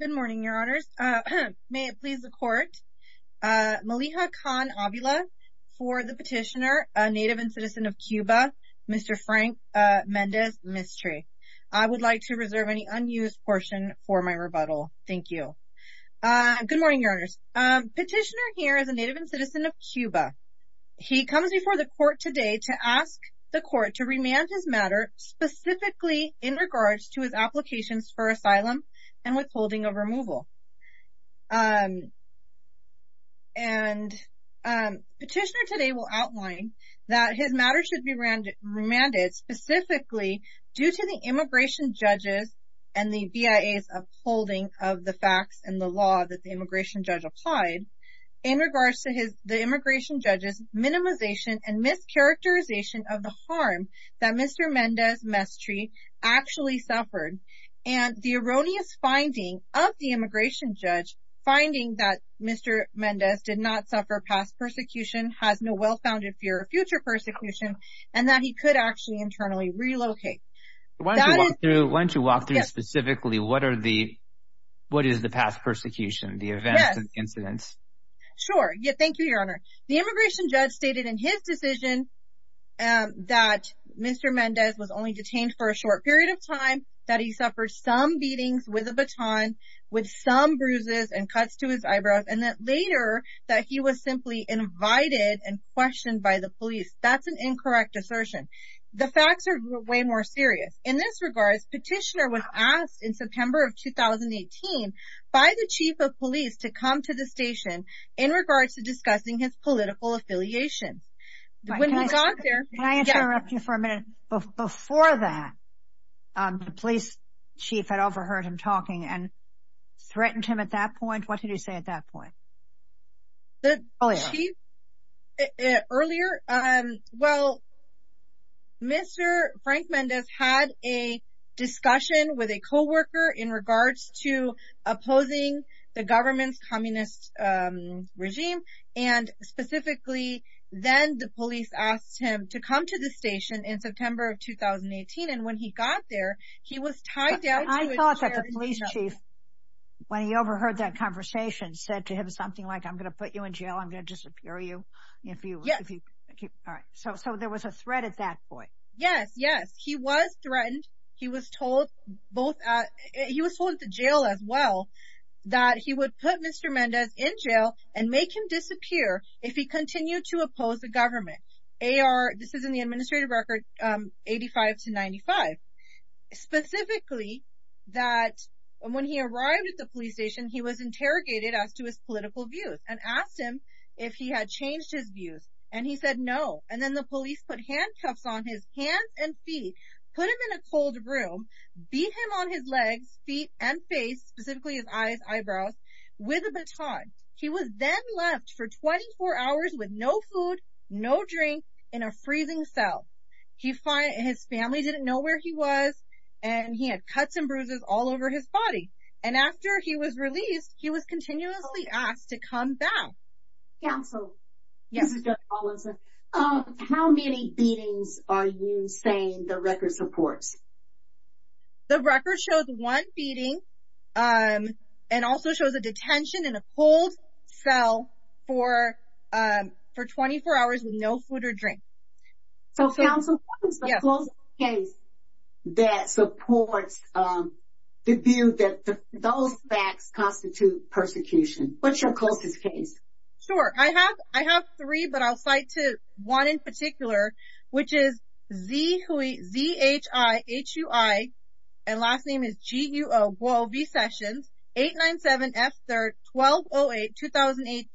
Good morning, Your Honors. May it please the Court, Maliha Khan-Avila for the petitioner, a native and citizen of Cuba, Mr. Frank Mendez-Mestre. I would like to reserve any unused portion for my rebuttal. Thank you. Good morning, Your Honors. Petitioner here is a native and citizen of Cuba. He comes before the Court today to ask the Court to remand his matter specifically in regards to his applications for asylum and withholding of removal. Petitioner today will outline that his matter should be remanded specifically due to the immigration judges and the BIA's upholding of the facts and the law that the immigration judge applied in regards to the immigration judge's minimization and mischaracterization of the harm that Mr. Mendez-Mestre actually suffered and the erroneous finding of the immigration judge finding that Mr. Mendez did not suffer past persecution, has no well-founded fear of future persecution, and that he could actually internally relocate. Why don't you walk through specifically what is the past persecution, the events and incidents? Sure. Thank you, Your Honor. The immigration for a short period of time that he suffered some beatings with a baton, with some bruises and cuts to his eyebrows, and that later that he was simply invited and questioned by the police. That's an incorrect assertion. The facts are way more serious. In this regard, Petitioner was asked in September of 2018 by the Chief of Police to come to the station in regards to discussing his political affiliations. Can I interrupt you for a minute? Before that, the police chief had overheard him talking and threatened him at that point. What did he say at that point? The chief earlier, well, Mr. Frank Mendez had a discussion with a co-worker in regards to opposing the government's communist regime. And specifically, then the police asked him to come to the station in September of 2018. And when he got there, he was tied down. I thought that the police chief, when he overheard that conversation, said to him something like, I'm going to put you in jail, I'm going to disappear you. So there was a threat at that point. Yes, yes, he was jail as well, that he would put Mr. Mendez in jail and make him disappear if he continued to oppose the government. This is in the administrative record, 85 to 95. Specifically, that when he arrived at the police station, he was interrogated as to his political views and asked him if he had changed his views. And he said no. And then the police put handcuffs on his hands and feet, put him in a cold room, beat him on his legs, feet, and face, specifically his eyes, eyebrows, with a baton. He was then left for 24 hours with no food, no drink, in a freezing cell. His family didn't know where he was, and he had cuts and bruises all over his body. And after he was released, he was continuously asked to come back. Counsel, this is Judge Hollinson. How many beatings are you saying the record supports? The record shows one beating and also shows a detention in a cold cell for 24 hours with no food or drink. So counsel, what is the closest case that supports the view that those facts constitute persecution? What's your closest case? Sure. I have three, but I'll cite one in particular, which is Zhihui, Z-H-I-H-U-I, and last name is G-U-O, Guo V. Sessions, 897-F-3-1208, 2018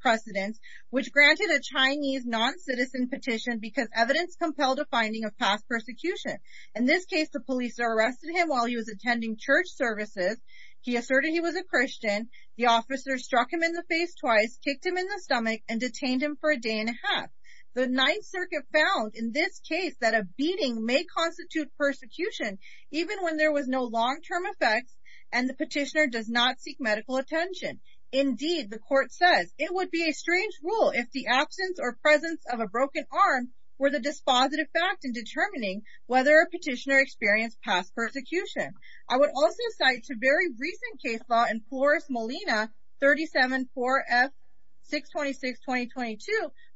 precedence, which granted a Chinese non-citizen petition because evidence compelled a finding of past persecution. In this case, the police arrested him while he was attending church services. He asserted he was a Christian. The officer struck him in the face twice, kicked him in the stomach, and detained him for a day and a half. The Ninth Circuit found in this case that a beating may constitute persecution even when there was no long-term effects and the petitioner does not seek medical attention. Indeed, the court says, it would be a strange rule if the absence or presence of a broken arm were the dispositive fact in determining whether a petitioner experienced past persecution. I would also cite a very recent case law in Flores Molina, 37-4-F-626-2022,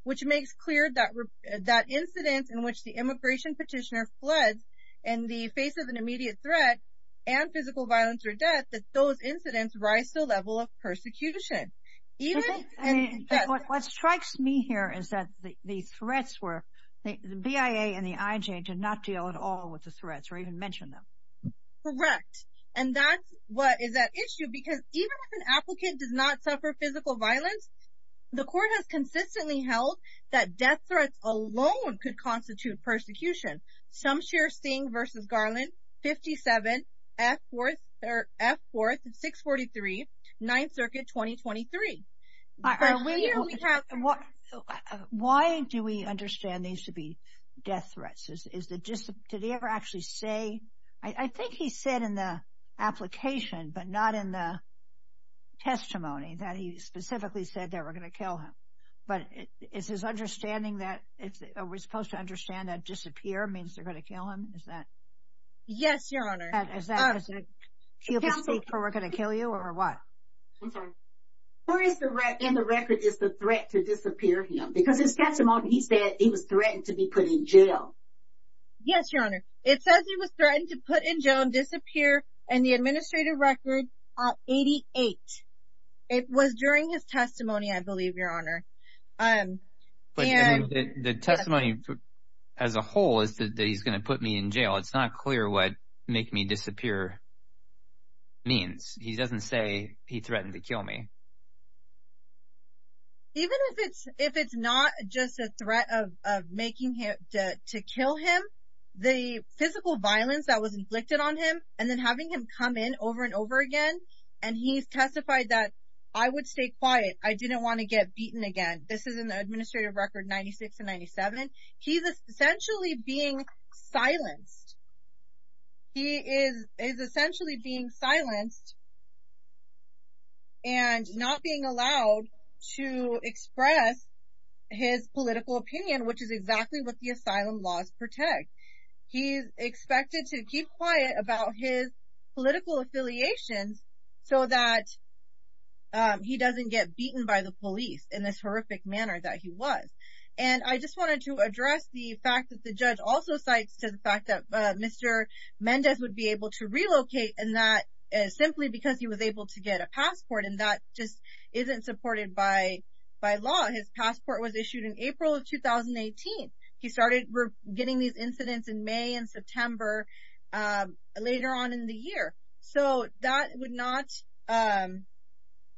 which makes clear that incidents in which the immigration petitioner floods in the face of an immediate threat and physical violence or death, that those incidents rise to the level of persecution. I mean, what strikes me here is that the threats were, the BIA and the IJ did not deal at all with the threats or even mention them. Correct, and that's what is at issue because even if an applicant does not suffer physical violence, the court has consistently held that death threats alone could constitute persecution. Some share Sting v. Garland, 57-F-4-643, Ninth Circuit, 2023. Why do we understand these to be death threats? Did he ever actually say, I think he said in the application but not in the testimony that he specifically said they were going to kill him, but it's his understanding that it's, we're supposed to understand that disappear means they're going to kill him, is that? Yes, your honor. Is that a cue to speak for we're going to kill you or what? I'm sorry. Where is the, in the record, is the threat to disappear him? Because his testimony, he said he was threatened to be put in jail. Yes, your honor. It says he was threatened to put in jail, disappear, and the administrative record, 88. It was during his testimony, I believe, your honor. But the testimony as a whole is that he's going to put me in jail. It's not clear what make me disappear means. He doesn't say he threatened to kill me. Even if it's not just a threat of making him to kill him, the physical violence that was inflicted on him and then having him come in over and over again and he's testified that I would stay quiet. I didn't want to get beaten again. This is in the administrative record, 96 and 97. He's essentially being silenced. He is essentially being silenced and not being allowed to express his political opinion, which is exactly what the asylum laws protect. He's expected to keep quiet about his political affiliations so that he doesn't get beaten by the police in this horrific manner that he was. And I just wanted to address the fact that the judge also cites to the fact that Mr. Mendez would be able to relocate and that is simply because he was able to get a passport and that just isn't supported by law. His passport was May and September later on in the year. So that would not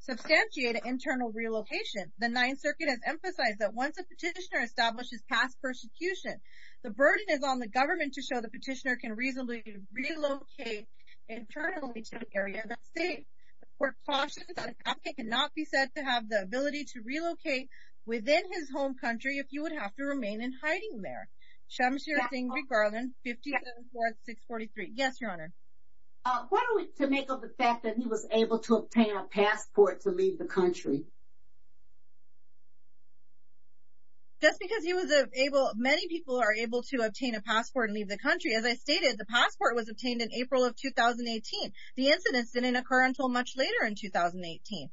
substantiate an internal relocation. The Ninth Circuit has emphasized that once a petitioner establishes past persecution, the burden is on the government to show the petitioner can reasonably relocate internally to an area that's safe. The court cautions that it cannot be said to have the ability to relocate within his home country if you would have to remain in hiding there. Shamashira Singh regarding 574643. Yes, your honor. Uh, what are we to make of the fact that he was able to obtain a passport to leave the country? Just because he was able, many people are able to obtain a passport and leave the country. As I stated, the passport was obtained in April of 2018. The incidents didn't occur until much later in 2018.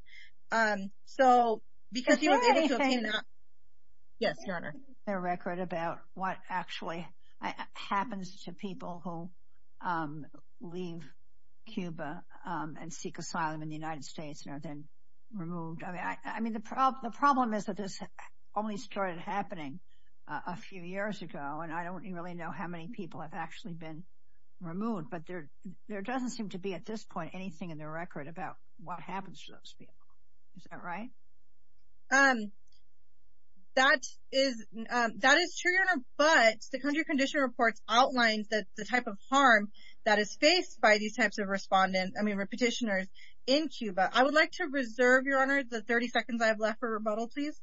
So, because he was able to obtain that. Yes, your honor. Their record about what actually happens to people who leave Cuba and seek asylum in the United States and are then removed. I mean, the problem is that this only started happening a few years ago, and I don't really know how many people have actually been removed, but there doesn't seem to be at this point anything in their record about what happens to those people. Is that right? That is true, your honor, but the country condition reports outlines that the type of harm that is faced by these types of respondents, I mean, petitioners in Cuba. I would like to reserve, your honor, the 30 seconds I have left for rebuttal, please.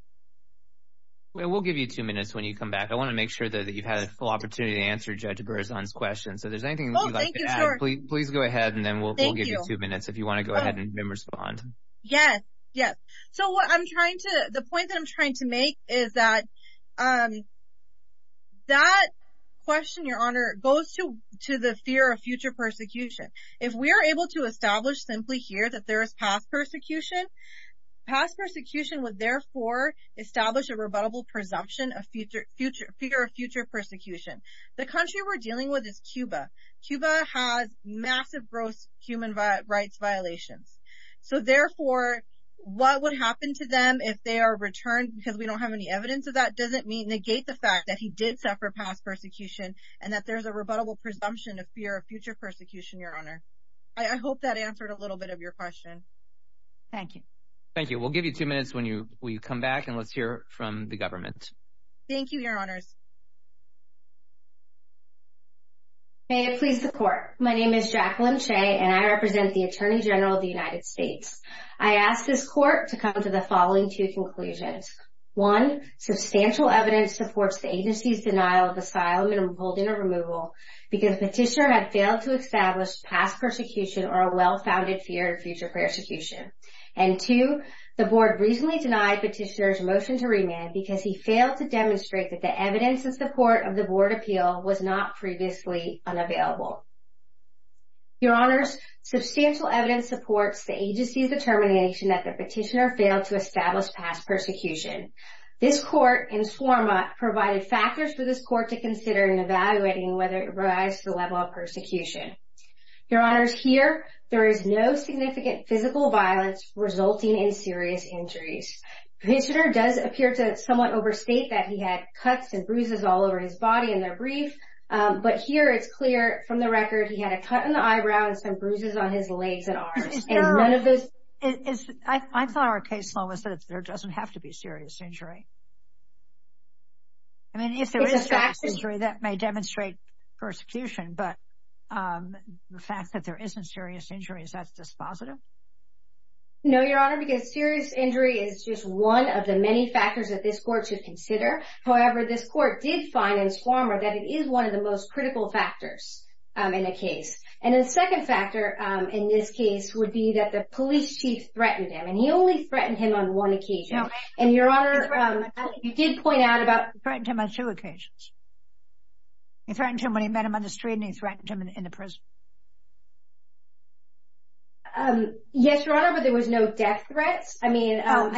We'll give you two minutes when you come back. I want to make sure that you've had a full please go ahead and then we'll give you two minutes if you want to go ahead and respond. Yes, yes. So, what I'm trying to the point that I'm trying to make is that that question, your honor, goes to the fear of future persecution. If we're able to establish simply here that there is past persecution, past persecution would therefore establish a rebuttable presumption of future future fear of future persecution. The country we're dealing with is Cuba. Cuba has massive gross human rights violations. So, therefore, what would happen to them if they are returned because we don't have any evidence of that doesn't negate the fact that he did suffer past persecution and that there's a rebuttable presumption of fear of future persecution, your honor. I hope that answered a little bit of your question. Thank you. Thank you. We'll give you two minutes when you come back and let's hear from the government. Thank you, your honors. May it please the court. My name is Jacqueline Shea and I represent the Attorney General of the United States. I ask this court to come to the following two conclusions. One, substantial evidence supports the agency's denial of asylum and holding a removal because the petitioner had failed to establish past persecution or a well-founded fear of future persecution. And two, the board recently denied petitioner's motion to remand because he failed to demonstrate that the evidence in support of the board appeal was not previously unavailable. Your honors, substantial evidence supports the agency's determination that the petitioner failed to establish past persecution. This court in Swarma provided factors for this court to consider in evaluating whether it provides the level of persecution. Your honors, here there is no significant physical violence resulting in serious injuries. Petitioner does appear to somewhat overstate that he had cuts and bruises all over his body in their brief, but here it's clear from the record he had a cut in the eyebrow and some bruises on his legs and arms. And none of those... I thought our case law was that there doesn't have to be serious injury. I mean, if there is serious injury, that may demonstrate persecution, but the fact that there isn't serious injury, is that dispositive? No, your honor, because serious injury is just one of the many factors that this court should consider. However, this court did find in Swarma that it is one of the most critical factors in a case. And the second factor in this case would be that the police chief threatened him, and he only threatened him on one occasion. And your honor, you did point out about... Threatened him on two occasions. He threatened him when he met him on the street and he threatened him on the street. Yes, your honor, but there was no death threats. I mean... That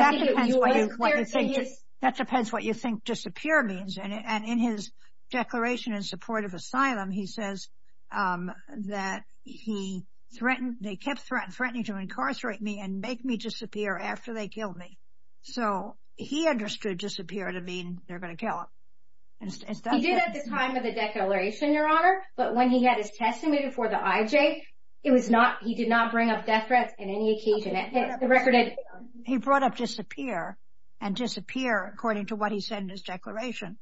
depends what you think disappear means. And in his declaration in support of asylum, he says that he threatened, they kept threatening to incarcerate me and make me disappear after they killed me. So he understood disappear to mean they're going to kill him. He did at the time of the declaration, your honor, but when he had his testimony before the IJ, he did not bring up death threats in any occasion. He brought up disappear and disappear according to what he said in his declaration.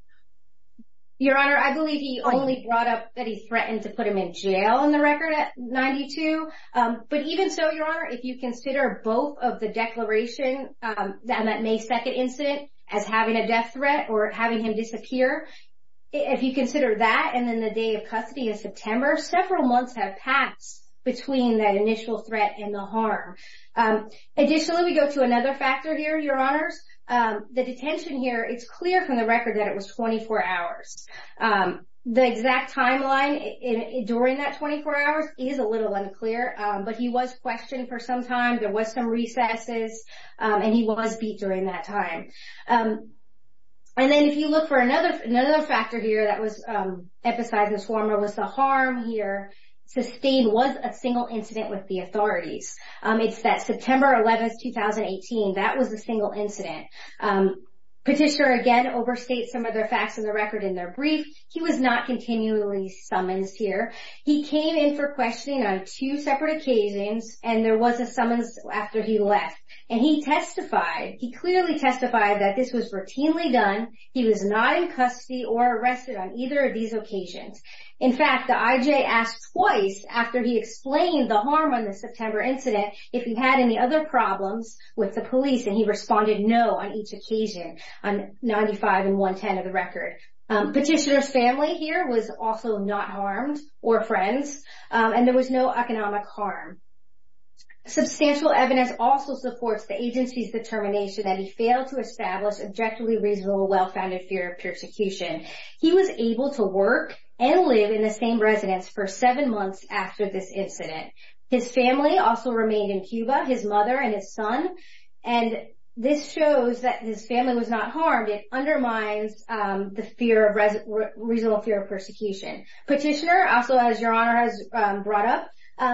Your honor, I believe he only brought up that he threatened to put him in jail in the record at 92. But even so, your honor, if you consider both of the declaration and that May 2nd incident as having a death threat or having him disappear, if you consider that and then the day of custody in September, several months have passed between that initial threat and the harm. Additionally, we go to another factor here, your honors. The detention here, it's clear from the record that it was 24 hours. The exact timeline during that 24 hours is a little unclear, but he was questioned for some time. There was some recesses and he was beat during that time. And then if you look for another factor here that was emphasized in this form was the harm here. Sustained was a single incident with the authorities. It's that September 11th, 2018. That was a single incident. Petitioner again overstates some of the facts of the record in their brief. He was not continually summons here. He came in for questioning on two separate occasions and there was a summons after he left. And he testified, he clearly testified that this was routinely done. He was not in custody or arrested on either of these occasions. In fact, the IJ asked twice after he explained the harm on the September incident if he had any other problems with the police and he responded no on each occasion on 95 and 110 of the record. Petitioner's family here was also not harmed or friends and there was no economic harm. Substantial evidence also supports the agency's determination that he failed to establish objectively reasonable well-founded fear of persecution. He was able to work and live in the same residence for seven months after this incident. His family also remained in Cuba, his mother and his son, and this shows that his family was not harmed. It undermines the fear of reasonable fear of persecution. Petitioner, also as your honor has brought up,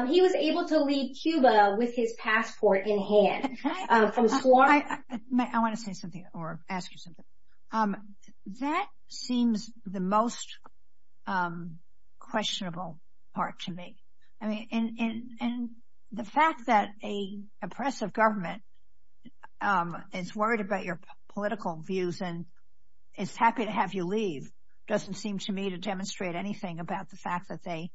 he was able to leave Cuba with his passport in hand. I want to say something or ask you something. That seems the most questionable part to me. I mean, and the fact that a oppressive government is worried about your political views and is happy to have you leave doesn't seem to me to demonstrate anything about the fact that they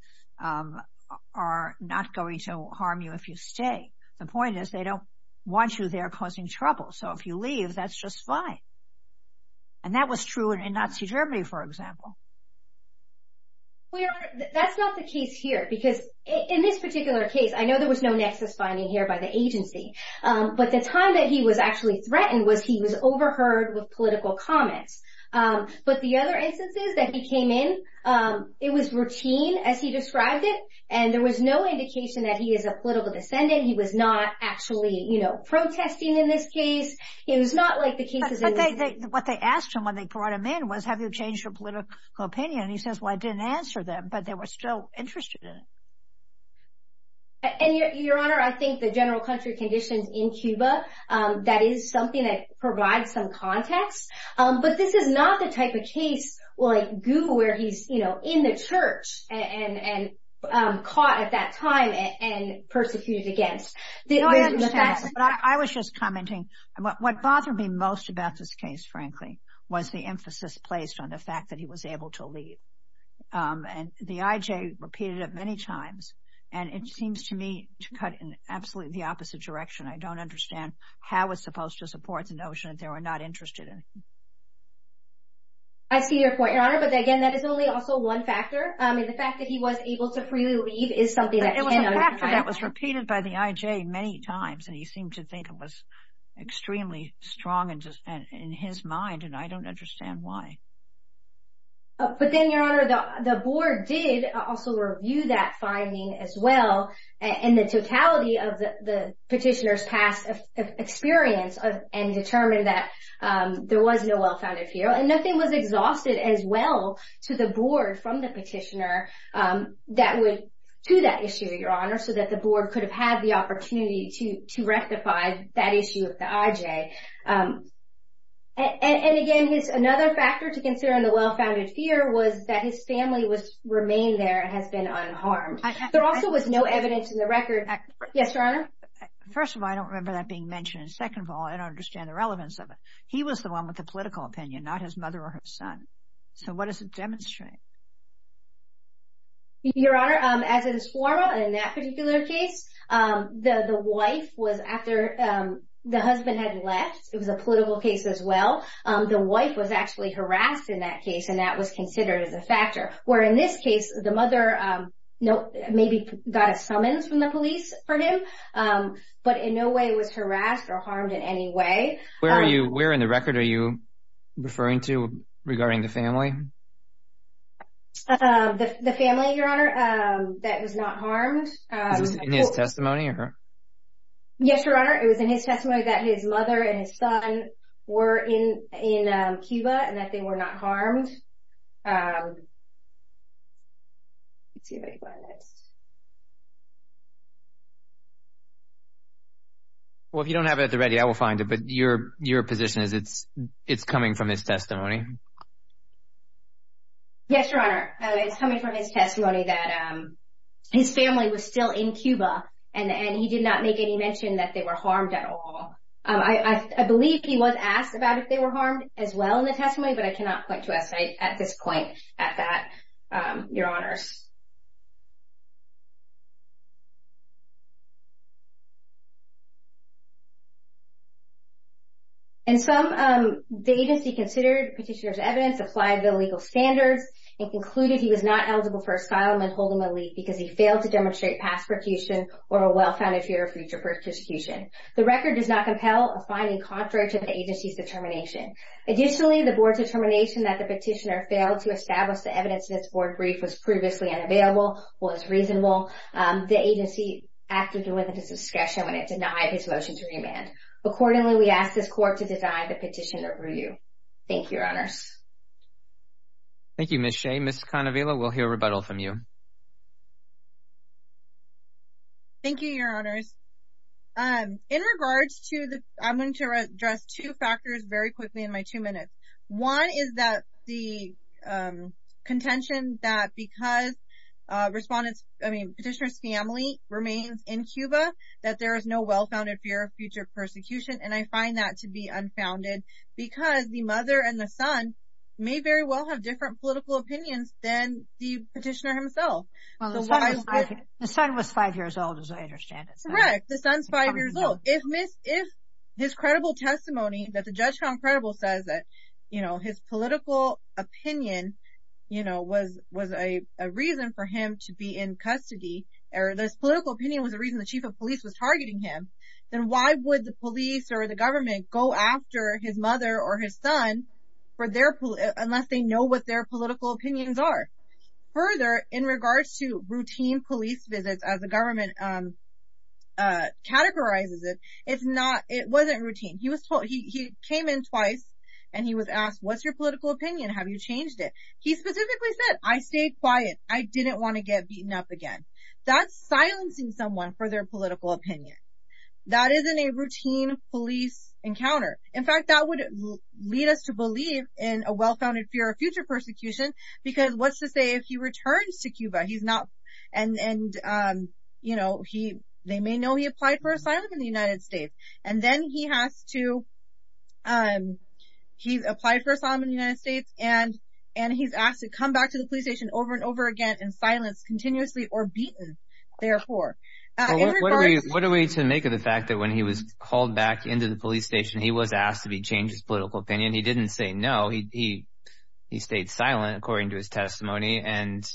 are not going to harm you if you stay. The point is they don't want you there causing trouble. So if you leave, that's just fine. And that was true in Nazi Germany, for example. That's not the case here because in this particular case, I know there was no nexus finding here by the agency, but the time that he was actually threatened was he was overheard with political comments. But the other instances that he came in, it was routine as he was protesting in this case. It was not like the cases... But what they asked him when they brought him in was, have you changed your political opinion? And he says, well, I didn't answer them, but they were still interested in it. And your honor, I think the general country conditions in Cuba, that is something that provides some context. But this is not the type of case like Guba where he's in the church and caught at that time and persecuted against. I was just commenting, what bothered me most about this case, frankly, was the emphasis placed on the fact that he was able to leave. And the IJ repeated it many times. And it seems to me to cut in absolutely the opposite direction. I don't understand how it's supposed to support the notion that they were not interested in him. I see your point, your honor. But again, that is only also one factor. I mean, the fact that he was able to freely leave is something that was repeated by the IJ many times. And he seemed to think it was extremely strong in his mind. And I don't understand why. But then your honor, the board did also review that finding as well. And the totality of the petitioner's past experience and determined that there was no well-founded fear and nothing was exhausted as well to the board from the petitioner that would to that issue, your honor, so that the board could have had the opportunity to rectify that issue of the IJ. And again, another factor to consider in the well-founded fear was that his family remained there and has been unharmed. There also was no evidence in the record. Yes, your honor. First of all, I don't remember that being mentioned. And second of all, I don't understand the relevance of it. He was the one with the political opinion, not his mother or his son. So what does it demonstrate? Your honor, as it is formal in that particular case, the wife was after the husband had left. It was a political case as well. The wife was actually harassed in that case, and that was considered as a factor. Where in this case, the mother, maybe got a summons from the police for him, but in no way was harassed or harmed in any way. Where are you? Where in the record are you referring to regarding the family? The family, your honor, that was not harmed. Was it in his testimony or her? Yes, your honor. It was in his testimony that his mother and his son were in Cuba and that they were not harmed. Well, if you don't have it at the ready, I will find it. But your position is it's coming from his testimony? Yes, your honor. It's coming from his testimony that his family was still in Cuba and he did not make any mention that they were harmed at all. I believe he was asked about if they were harmed as well in the testimony, but I cannot point to us at this point at that, your honors. And some, the agency considered petitioner's evidence, applied the legal standards, and concluded he was not eligible for asylum and hold him a leave because he failed to demonstrate past persecution or a well-founded fear of future persecution. The record does not compel a finding contrary to the agency's determination. Additionally, the board's determination that the petitioner failed to establish the evidence in his board brief was previously in the record. Thank you, your honors. Thank you, Ms. Shea. Ms. Canavela, we'll hear rebuttal from you. Thank you, your honors. In regards to the, I'm going to address two factors very quickly in my response. I mean, petitioner's family remains in Cuba, that there is no well-founded fear of future persecution, and I find that to be unfounded because the mother and the son may very well have different political opinions than the petitioner himself. The son was five years old, as I understand it. Correct. The son's five years old. If his credible testimony that the judge found credible says that, his political opinion was a reason for him to be in custody, or this political opinion was a reason the chief of police was targeting him, then why would the police or the government go after his mother or his son unless they know what their political opinions are? Further, in regards to routine police visits, as the government categorizes it, it wasn't routine. He was told, he came in twice and he was asked, what's your political opinion? Have you changed it? He specifically said, I stayed quiet. I didn't want to get beaten up again. That's silencing someone for their political opinion. That isn't a routine police encounter. In fact, that would lead us to believe in a well-founded fear of future persecution because what's to say if he returns to Cuba, he's not, and, and, you know, he, they may know he applied for asylum in the United States, and then he has to, he's applied for asylum in the United States, and, and he's asked to come back to the police station over and over again in silence, continuously, or beaten, therefore. What are we to make of the fact that when he was called back into the police station, he was asked to be changed his political opinion. He didn't say no. He, he, he stayed silent according to his testimony. And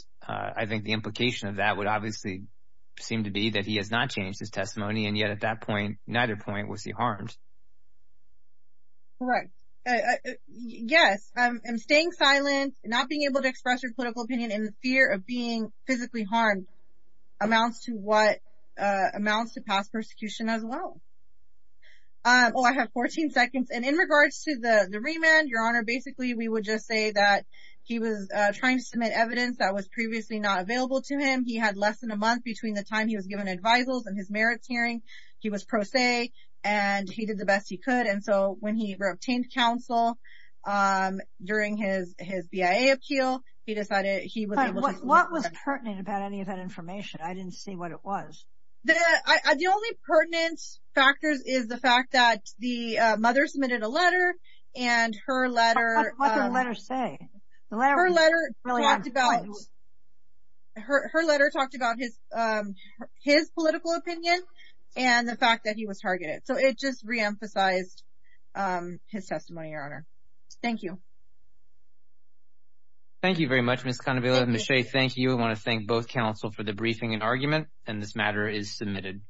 yet at that point, neither point was he harmed. Correct. Yes. I'm staying silent, not being able to express your political opinion in the fear of being physically harmed amounts to what amounts to past persecution as well. Oh, I have 14 seconds. And in regards to the remand, your honor, basically, we would just say that he was trying to submit evidence that was previously not available to him. He had less than a month between the time he was given advisals and his merits hearing, he was pro se, and he did the best he could. And so when he obtained counsel during his, his BIA appeal, he decided he was. What was pertinent about any of that information? I didn't see what it was. The only pertinent factors is the fact that the mother submitted a letter, and her letter. What did the letter say? Her letter talked about her, her letter talked about his, his political opinion and the fact that he was targeted. So it just re-emphasized his testimony. Your honor. Thank you. Thank you very much, Ms. Cannavilla. Ms. Shea, thank you. I want to thank both counsel for the briefing and argument, and this matter is submitted.